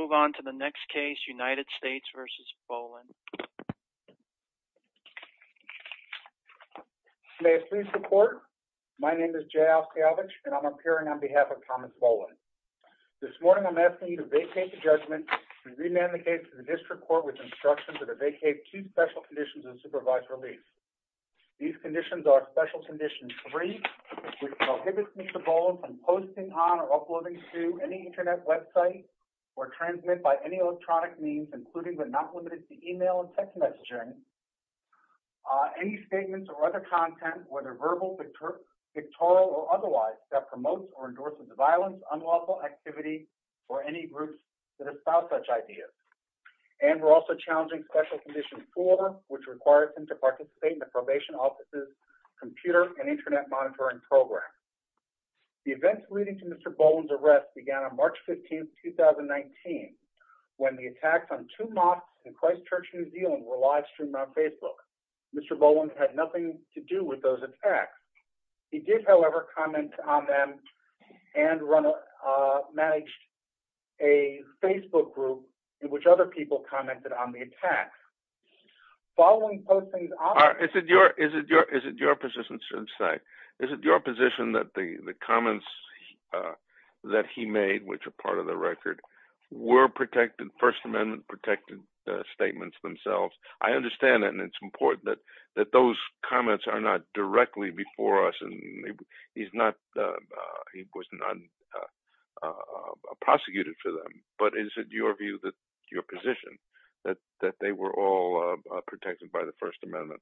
May I please report? My name is Jay Oskavich, and I'm appearing on behalf of Thomas Bolin. This morning I'm asking you to vacate the judgment and re-manicate to the district court with instructions that I vacate two special conditions and supervise release. These conditions are Special Condition 3, which prohibits me, Mr. Bolin, from posting on or uploading to any internet website or transmit by any electronic means, including but not limited to email and text messaging, any statements or other content, whether verbal, pictorial, or otherwise, that promotes or endorses violence, unlawful activity, or any groups that espouse such ideas. And we're also challenging Special Condition 4, which requires him to participate in the probation office's computer and internet monitoring program. The events leading to Mr. Bolin's arrest began on March 15th, 2019, when the attacks on two mosques in Christchurch, New Zealand were live-streamed on Facebook. Mr. Bolin had nothing to do with those attacks. He did, however, comment on them and managed a Facebook group in which other people commented on the attacks. Following posting on the site... ...that he made, which are part of the record, were protected, First Amendment-protected statements themselves. I understand that, and it's important that those comments are not directly before us, and he's not, he was not prosecuted for them. But is it your view, your position, that they were all protected by the First Amendment?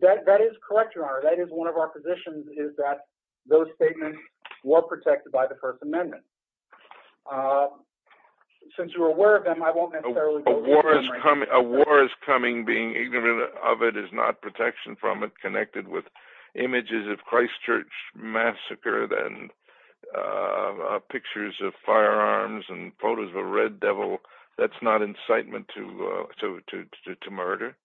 That is correct, Your Honor. That is one of our positions, is that those statements were protected by the First Amendment. Since you're aware of them, I won't necessarily go through them right now. A war is coming, being ignorant of it is not protection from it, connected with images of Christchurch massacred, and pictures of firearms, and photos of a red devil, that's not incitement to murder.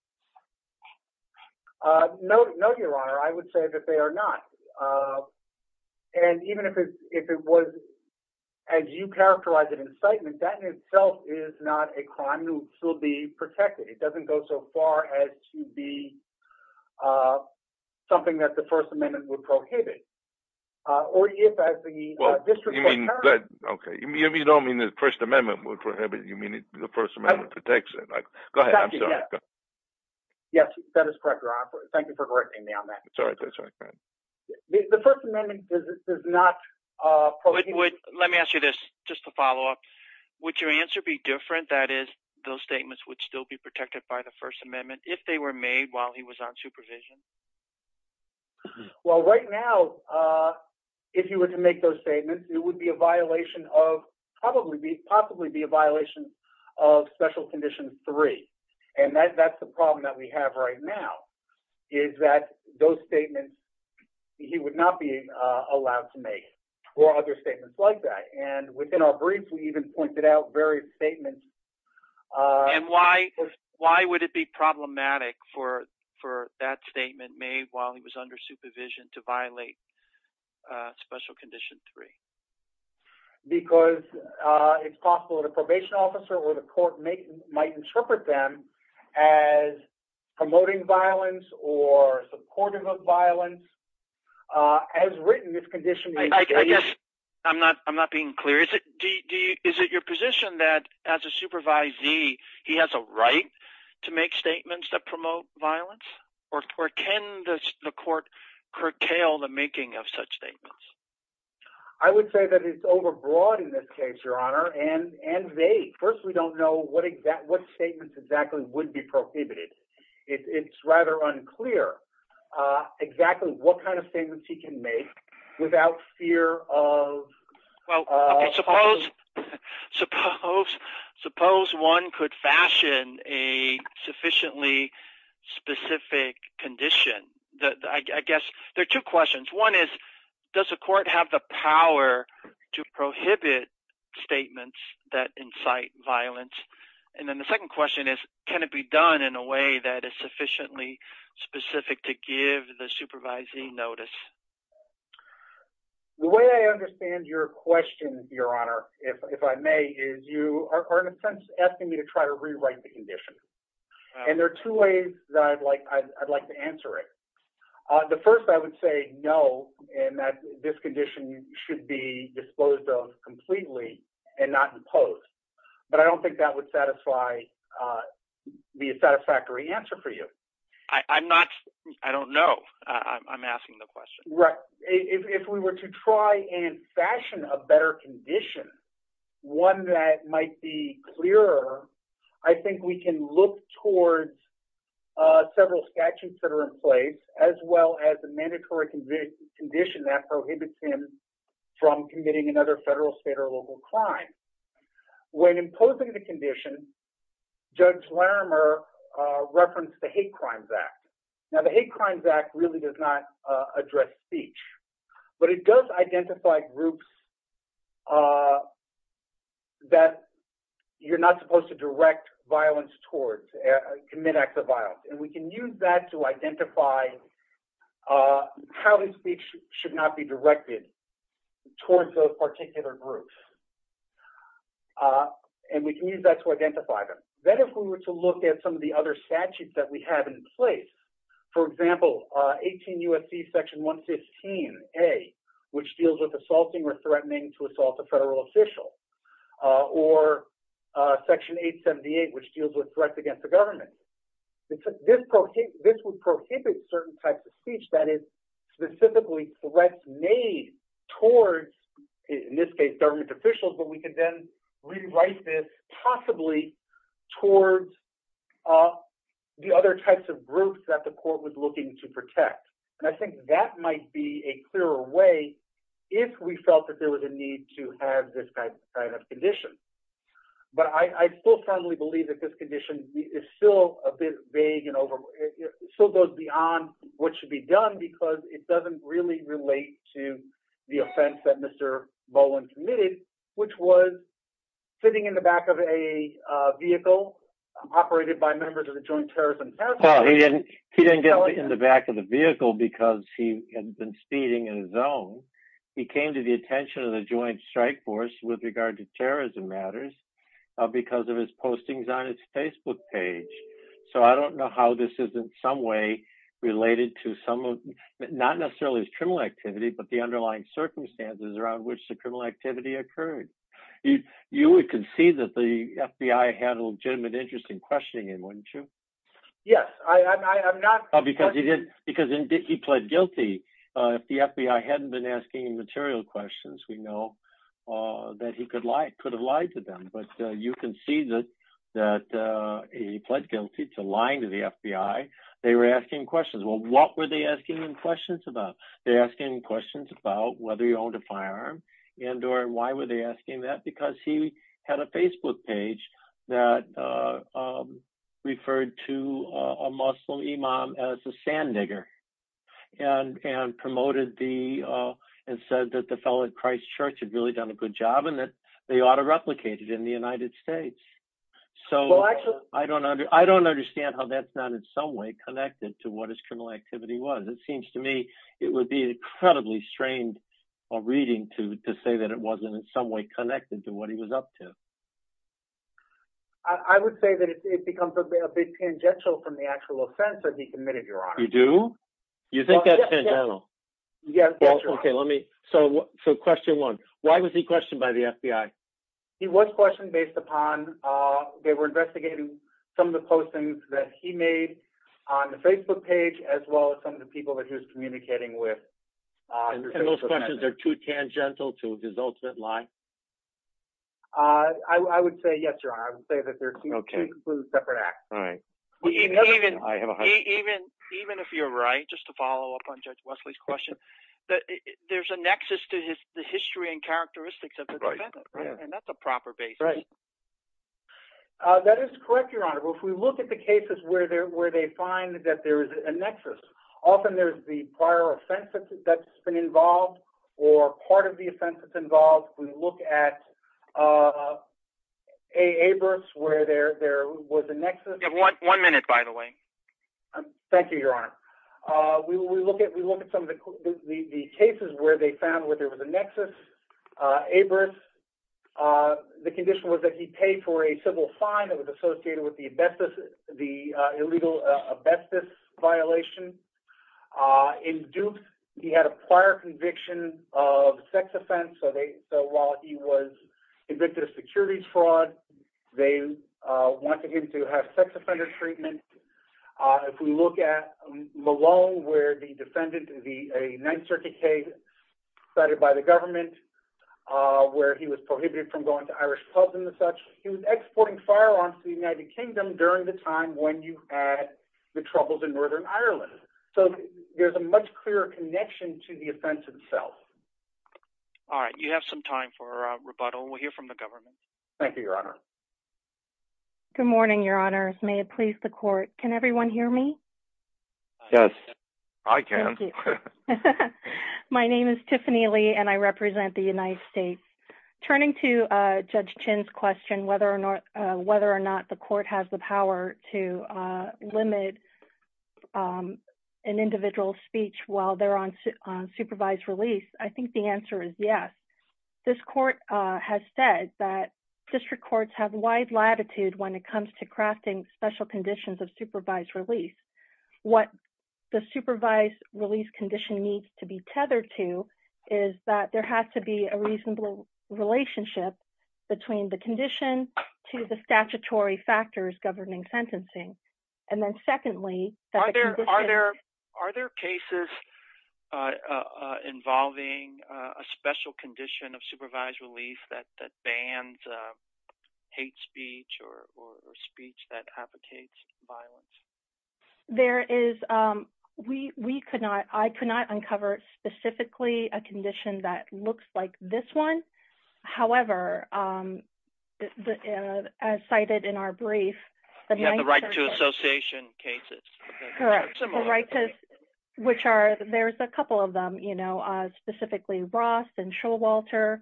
No, Your Honor, I would say that they are not. And even if it was, as you characterized it, incitement, that in itself is not a crime that will be protected. It doesn't go so far as to be something that the First Amendment would prohibit. Or if, as the District Attorney... You don't mean the First Amendment would prohibit, you mean the First Amendment protects it. Go ahead, I'm sorry. Yes, that is correct, Your Honor. Thank you for correcting me on that. That's all right, that's all right. The First Amendment does not prohibit... Let me ask you this, just to follow up. Would your answer be different, that is, those statements would still be protected by the First Amendment if they were made while he was on supervision? Well, right now, if he were to make those statements, it would be a violation of, possibly be a violation of Special Condition 3. And that's the problem that we have right now, is that those statements, he would not be allowed to make, or other statements like that. And within our brief, we even pointed out various statements... made while he was under supervision to violate Special Condition 3. Because it's possible that a probation officer or the court might interpret them as promoting violence or supportive of violence. As written, this condition... I guess I'm not being clear. Is it your position that, as a supervisee, he has a right to make those statements? Or can the court curtail the making of such statements? I would say that it's overbroad in this case, Your Honor, and vague. First, we don't know what statements exactly would be prohibited. It's rather unclear exactly what kind of statements he can make without fear of... Well, suppose one could fashion a sufficiently specific condition. I guess there are two questions. One is, does the court have the power to prohibit statements that incite violence? And then the second question is, can it be done in a way that is sufficiently specific to give the supervising notice? The way I understand your question, Your Honor, if I may, is you are in a sense asking me to try to rewrite the condition. And there are two ways that I'd like to answer it. The first, I would say, no, and that this condition should be disclosed of completely and not imposed. But I don't think that would satisfy... be a satisfactory answer for you. I'm not... I don't know. I'm asking the question. Right. If we were to try and fashion a better condition, one that might be clearer, I think we can look towards several statutes that are in place, as well as a mandatory condition that prohibits him from committing another federal, state, or local crime. When imposing the condition, Judge Larimer referenced the Hate Crimes Act. Now the Hate Crimes Act really does not address speech. But it does identify groups that you're not supposed to direct violence towards, commit acts of violence. And we can use that to identify how the speech should not be directed towards those particular groups. And we can use that to identify them. Then if we were to look at some of the other statutes that we have in place, for example, 18 U.S.C. Section 115A, which deals with assaulting or threatening to assault a federal official, or Section 878, which deals with threats against the government. This would prohibit certain types of speech that is specifically threats made towards, in this case, government officials. But we can then rewrite this possibly towards the other types of groups that the court was looking to protect. And I think that might be a clearer way if we felt that there was a need to have this kind of condition. But I still firmly believe that this condition is still a bit vague and still goes beyond what should be done because it doesn't really relate to the offense that Mr. Bowen committed, which was sitting in the back of a vehicle operated by members of the Joint Terrorism Task Force. Well, he didn't get in the back of the vehicle because he had been speeding in his own. He came to the attention of the Joint Strike Force with regard to terrorism matters because of his postings on its Facebook page. So I don't know how this is in some way related to some of, not necessarily his criminal activity, but the underlying circumstances around which the criminal activity occurred. You would concede that the FBI had a legitimate interest in questioning him, wouldn't you? Yes, I'm not. Because he did, because he pled guilty. If the FBI hadn't been asking him material questions, we know that he could have lied to them. But you can see that he pled guilty to lying to the FBI. They were asking him questions. Well, what were they asking him questions about? They asked him questions about whether he owned a firearm and or why were they asking that? Because he had a Facebook page that referred to a Muslim imam as a sand digger and promoted and said that the fellow at Christ Church had really done a good job and that they ought to replicate it in the United States. So I don't understand how that's not in some way connected to what his criminal activity was. It seems to me it would be incredibly strained of reading to say that it wasn't in some way connected to what he was up to. I would say that it becomes a bit tangential from the actual offense that he committed, Your Honor. You do? You think that's tangential? Yes, Your Honor. So question one, why was he questioned by the FBI? He was questioned based upon they were investigating some of the postings that he made on the Facebook page as well as some of the people that he was communicating with. And those questions are too tangential to his ultimate lie? I would say yes, Your Honor. I would say that they're two completely separate acts. Even if you're right, just to follow up on Judge Wesley's question, there's a nexus to the history and characteristics of the defendant, and that's a proper basis. That is correct, Your Honor. If we look at the cases where they find that there is a nexus, often there's the prior offenses that's been involved or part of the offenses involved. We look at A. Abrams where there was a nexus. You have one minute, by the way. Thank you, Your Honor. We look at some of the cases where they found where there was a nexus. Abrams, the condition was that he paid for a civil fine that was associated with the illegal abestus violation. In Dukes, he had a prior conviction of sex offense. So while he was convicted of securities fraud, they wanted him to have sex offender treatment. If we look at Malone where the defendant, a Ninth Circuit case decided by the government where he was prohibited from going to Irish pubs and the such, he was exporting firearms to the United Kingdom during the time when you had the troubles in Northern Ireland. So there's a much clearer connection to the offense itself. All right. You have some time for rebuttal. We'll hear from the government. Thank you, Your Honor. Good morning, Your Honors. May it please the Court. Can everyone hear me? Yes. I can. Thank you. My name is Tiffany Lee, and I represent the United States. Turning to Judge Chin's question, whether or not the court has the power to limit an individual's speech while they're on supervised release, I think the answer is yes. This court has said that district courts have wide latitude when it comes to crafting special conditions of supervised release. What the supervised release condition needs to be tethered to is that there has to be a reasonable relationship between the condition to the statutory factors governing sentencing. Are there cases involving a special condition of supervised release that bans hate speech or speech that advocates violence? I could not uncover specifically a condition that looks like this one. However, as cited in our brief, the right to association cases. Correct. The right to, which are, there's a couple of them, you know, specifically Ross and Showalter.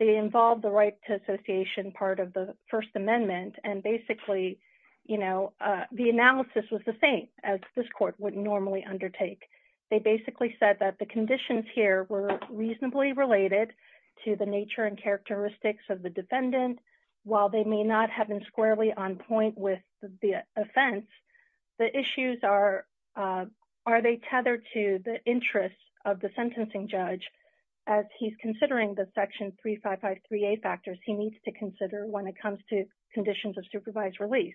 They involve the right to association part of the First Amendment, and basically, you know, the analysis was the same as this court would normally undertake. They basically said that the conditions here were reasonably related to the nature and characteristics of the defendant. While they may not have been squarely on point with the offense, the issues are, are they tethered to the interests of the sentencing judge as he's considering the section 3553A factors he needs to consider when it comes to conditions of supervised release.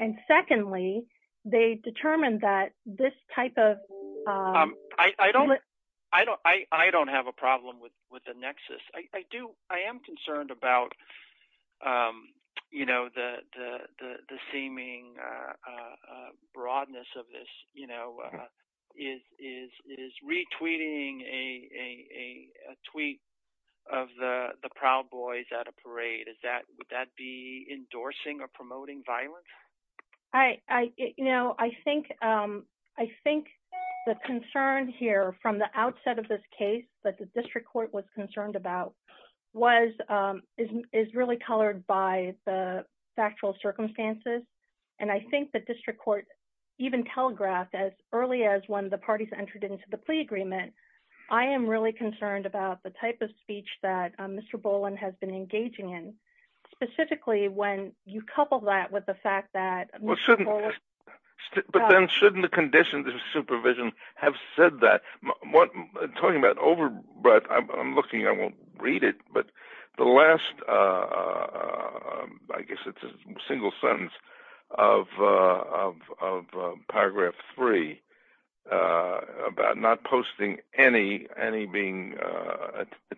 And secondly, they determined that this type of. I don't I don't I don't have a problem with with the nexus. I am concerned about, you know, the seeming broadness of this, you know, is retweeting a tweet of the Proud Boys at a parade. Is that would that be endorsing or promoting violence? I, you know, I think, I think the concern here from the outset of this case, but the district court was concerned about was is really colored by the factual circumstances. And I think the district court even telegraphed as early as one of the parties entered into the plea agreement. I am really concerned about the type of speech that Mr. Boland has been engaging in, specifically when you couple that with the fact that. But then shouldn't the conditions of supervision have said that what I'm talking about over, but I'm looking, I won't read it. But the last I guess it's a single sentence of of of Paragraph three about not posting any any being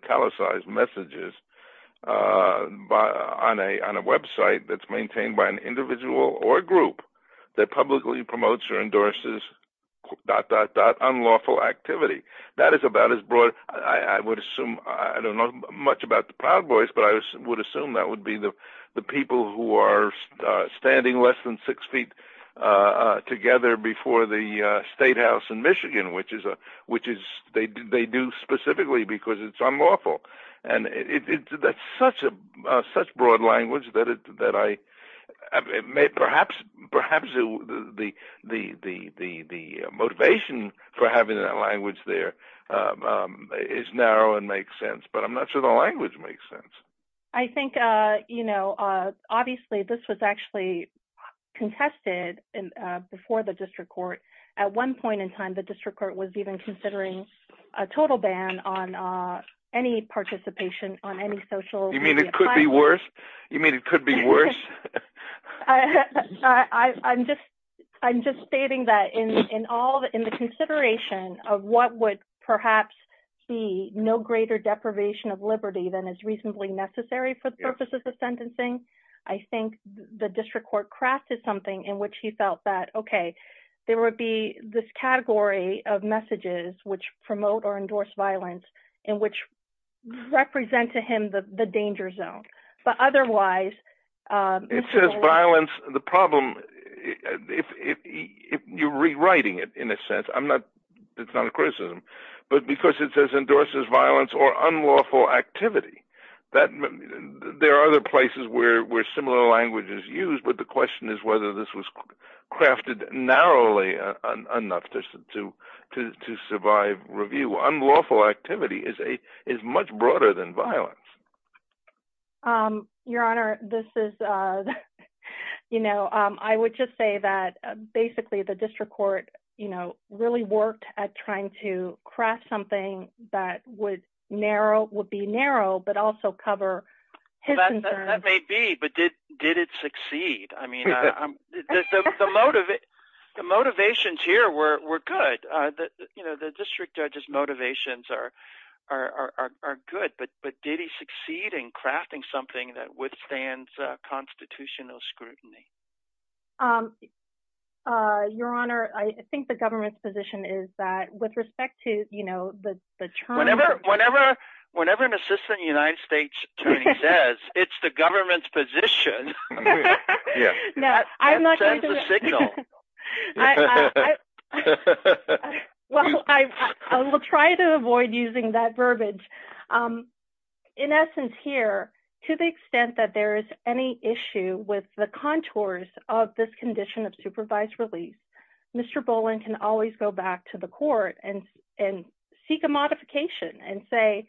italicized messages by on a on a Web site that's maintained by an individual or group that publicly promotes or endorses that that that unlawful activity. That is about as broad. I would assume I don't know much about the Proud Boys, but I would assume that would be the people who are standing less than six feet together before the state house in Michigan, which is a which is they do they do specifically because it's unlawful. And it's such a such broad language that it that I may perhaps perhaps the the the the the motivation for having that language there is narrow and makes sense. But I'm not sure the language makes sense. I think, you know, obviously this was actually contested before the district court. At one point in time, the district court was even considering a total ban on any participation on any social. You mean it could be worse. You mean it could be worse. I'm just, I'm just stating that in all the in the consideration of what would perhaps see no greater deprivation of liberty than is reasonably necessary for the purposes of sentencing. I think the district court crafted something in which he felt that, OK, there would be this category of messages which promote or endorse violence in which represent to him the danger zone. But otherwise, it says violence. The problem if you're rewriting it, in a sense, I'm not. It's not a criticism, but because it says endorses violence or unlawful activity that there are other places where similar language is used. But the question is whether this was crafted narrowly enough to to to survive. Review unlawful activity is a is much broader than violence. Your Honor, this is, you know, I would just say that basically the district court, you know, really worked at trying to craft something that would narrow would be narrow, but also cover. Maybe. But did did it succeed? I mean, the motive, the motivations here were good. You know, the district judge's motivations are are good. But but did he succeed in crafting something that withstands constitutional scrutiny? Your Honor, I think the government's position is that with respect to, you know, the term whenever whenever whenever an assistant United States says it's the government's position. Yeah, I'm not. Well, I will try to avoid using that verbiage in essence here to the extent that there is any issue with the contours of this condition of supervised release. Mr. Boland can always go back to the court and and seek a modification and say,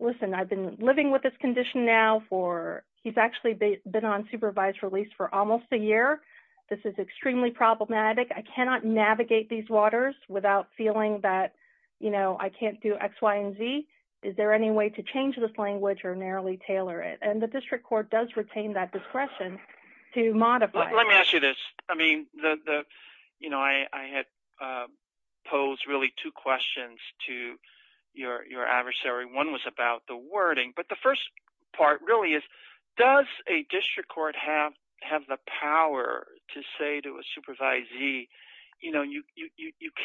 listen, I've been living with this condition now for he's actually been on supervised release for almost a year. This is extremely problematic. I cannot navigate these waters without feeling that, you know, I can't do X, Y and Z. Is there any way to change this language or narrowly tailor it? And the district court does retain that discretion to modify. Let me ask you this. I mean, the you know, I had posed really two questions to your adversary. One was about the wording. But the first part really is, does a district court have have the power to say to a supervisee, you know, you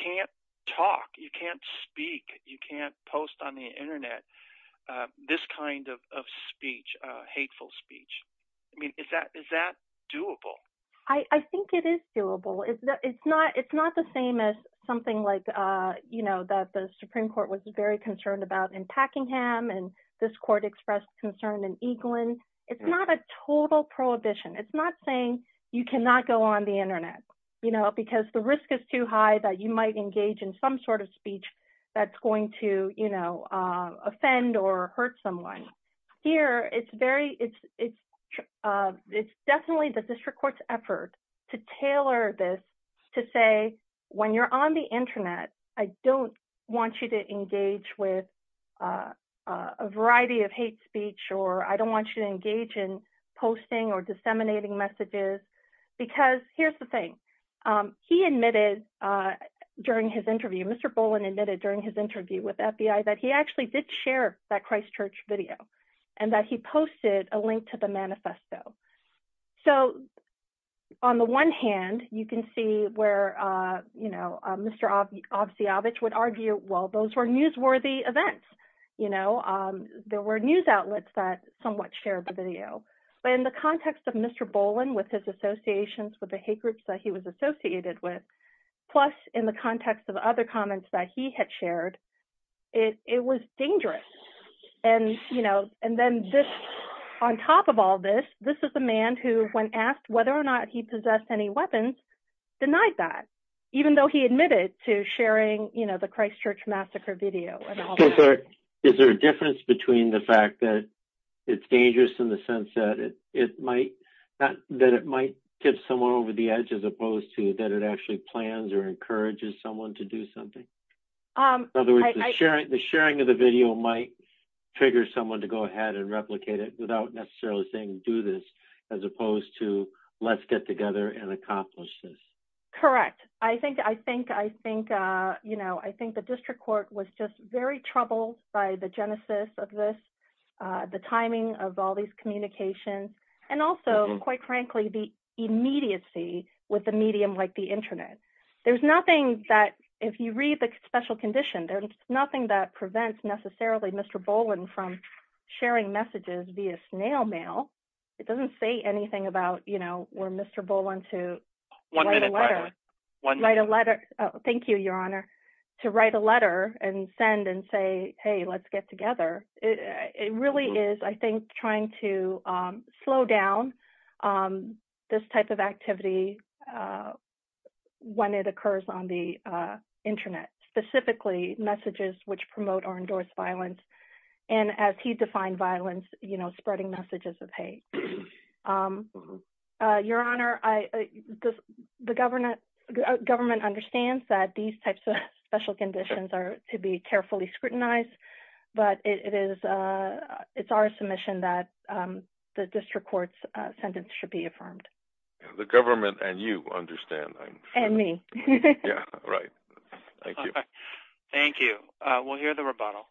can't talk, you can't speak. You can't post on the Internet this kind of speech, hateful speech. I mean, is that is that doable? I think it is doable. It's not it's not the same as something like, you know, that the Supreme Court was very concerned about in Packingham. And this court expressed concern in England. It's not a total prohibition. It's not saying you cannot go on the Internet, you know, because the risk is too high that you might engage in some sort of speech that's going to, you know, offend or hurt someone here. It's very it's it's it's definitely the district court's effort to tailor this to say when you're on the Internet, I don't want you to engage with a variety of hate speech or I don't want you to engage in posting or disseminating messages because here's the thing. He admitted during his interview, Mr. Bowen admitted during his interview with FBI that he actually did share that Christchurch video and that he posted a link to the manifesto. So, on the one hand, you can see where, you know, Mr. Obstiavich would argue, well, those were newsworthy events. You know, there were news outlets that somewhat shared the video. But in the context of Mr. Bowen with his associations with the hate groups that he was associated with, plus in the context of other comments that he had shared, it was dangerous. And, you know, and then this on top of all this, this is the man who, when asked whether or not he possessed any weapons, denied that, even though he admitted to sharing, you know, the Christchurch massacre video. Is there a difference between the fact that it's dangerous in the sense that it might that it might tip someone over the edge as opposed to that it actually plans or encourages someone to do something? In other words, the sharing of the video might trigger someone to go ahead and replicate it without necessarily saying do this, as opposed to let's get together and accomplish this. Correct. I think, I think, I think, you know, I think the district court was just very troubled by the genesis of this, the timing of all these communications, and also, quite frankly, the immediacy with a medium like the Internet. There's nothing that if you read the special condition, there's nothing that prevents necessarily Mr. Bowen from sharing messages via snail mail. It doesn't say anything about, you know, where Mr. Bowen to write a letter. Thank you, Your Honor, to write a letter and send and say, hey, let's get together. It really is, I think, trying to slow down this type of activity when it occurs on the Internet, specifically messages which promote or endorse violence, and as he defined violence, you know, spreading messages of hate. Your Honor, the government understands that these types of special conditions are to be carefully scrutinized, but it is, it's our submission that the district court's sentence should be affirmed. The government and you understand. And me. Yeah, right. Thank you. Thank you. We'll hear the rebuttal.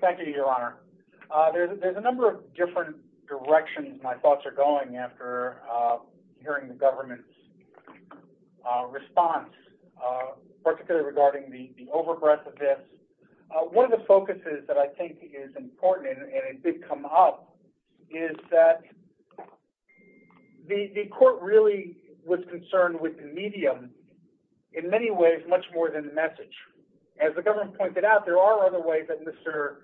Thank you, Your Honor. There's a number of different directions my thoughts are going after hearing the government's response, particularly regarding the overbreadth of this. One of the focuses that I think is important and it did come up is that the court really was concerned with the medium in many ways much more than the message. As the government pointed out, there are other ways that Mr.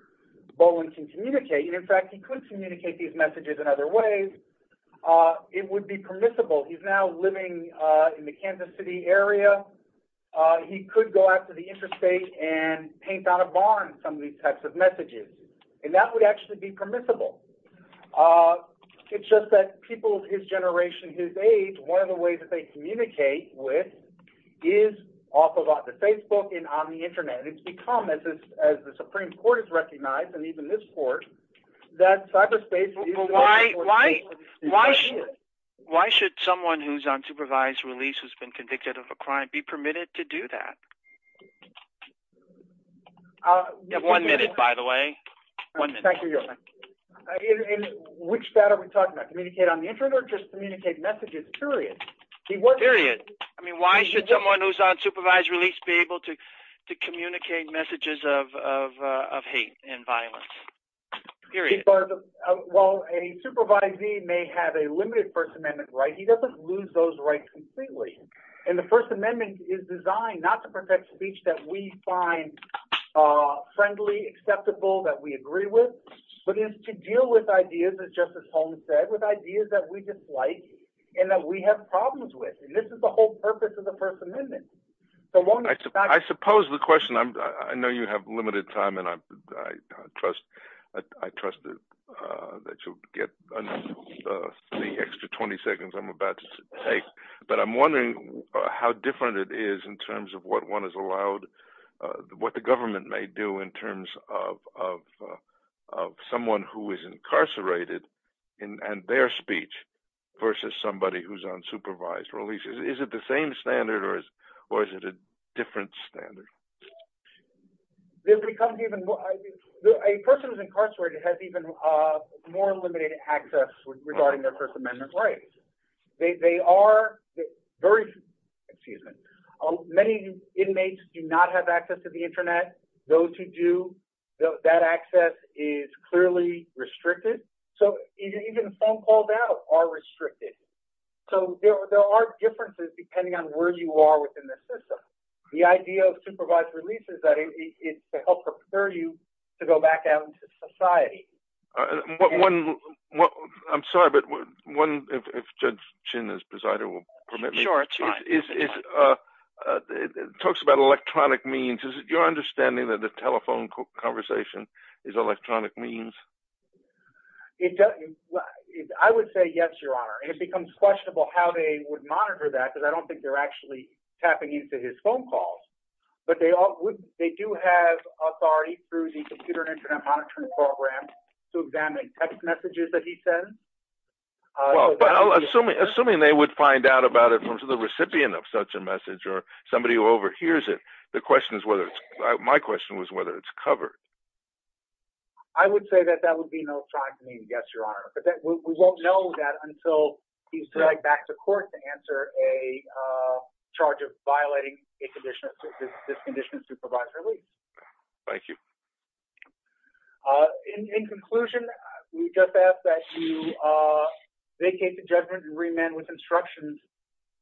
Bowen can communicate. In fact, he could communicate these messages in other ways. It would be permissible. He's now living in the Kansas City area. He could go out to the interstate and paint on a barn some of these types of messages, and that would actually be permissible. It's just that people of his generation, his age, one of the ways that they communicate with is off of the Facebook and on the Internet. It's become, as the Supreme Court has recognized and even this court, that cyberspace... Why should someone who's on supervised release who's been convicted of a crime be permitted to do that? You have one minute, by the way. One minute. Thank you, Your Honor. Which data are we talking about? Communicate on the Internet or just communicate messages? Period. Period. I mean, why should someone who's on supervised release be able to communicate messages of hate and violence? Period. Well, a supervisee may have a limited First Amendment right. He doesn't lose those rights completely. And the First Amendment is designed not to protect speech that we find friendly, acceptable, that we agree with, but is to deal with ideas, as Justice Holmes said, with ideas that we dislike and that we have problems with. And this is the whole purpose of the First Amendment. I suppose the question—I know you have limited time, and I trust that you'll get the extra 20 seconds I'm about to take. But I'm wondering how different it is in terms of what one is allowed—what the government may do in terms of someone who is incarcerated and their speech versus somebody who's on supervised release. Is it the same standard, or is it a different standard? A person who's incarcerated has even more limited access regarding their First Amendment rights. They are very—excuse me. Many inmates do not have access to the Internet. Those who do, that access is clearly restricted. So even phone calls out are restricted. So there are differences depending on where you are within the system. The idea of supervised release is that it's to help prepare you to go back out into society. I'm sorry, but one—if Judge Chin, as presider, will permit me. Sure. It talks about electronic means. Is it your understanding that the telephone conversation is electronic means? I would say yes, Your Honor. And it becomes questionable how they would monitor that, because I don't think they're actually tapping into his phone calls. But they do have authority through the computer and Internet monitoring program to examine text messages that he sends. Well, assuming they would find out about it from the recipient of such a message or somebody who overhears it, the question is whether—my question was whether it's covered. I would say that that would be an electronic means, yes, Your Honor. But we won't know that until he's dragged back to court to answer a charge of violating this condition of supervised release. Thank you. In conclusion, we just ask that you vacate the judgment and remand with instructions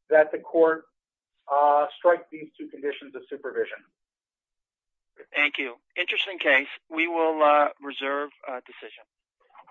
that the court strike these two conditions of supervision. Thank you. Interesting case. We will reserve a decision.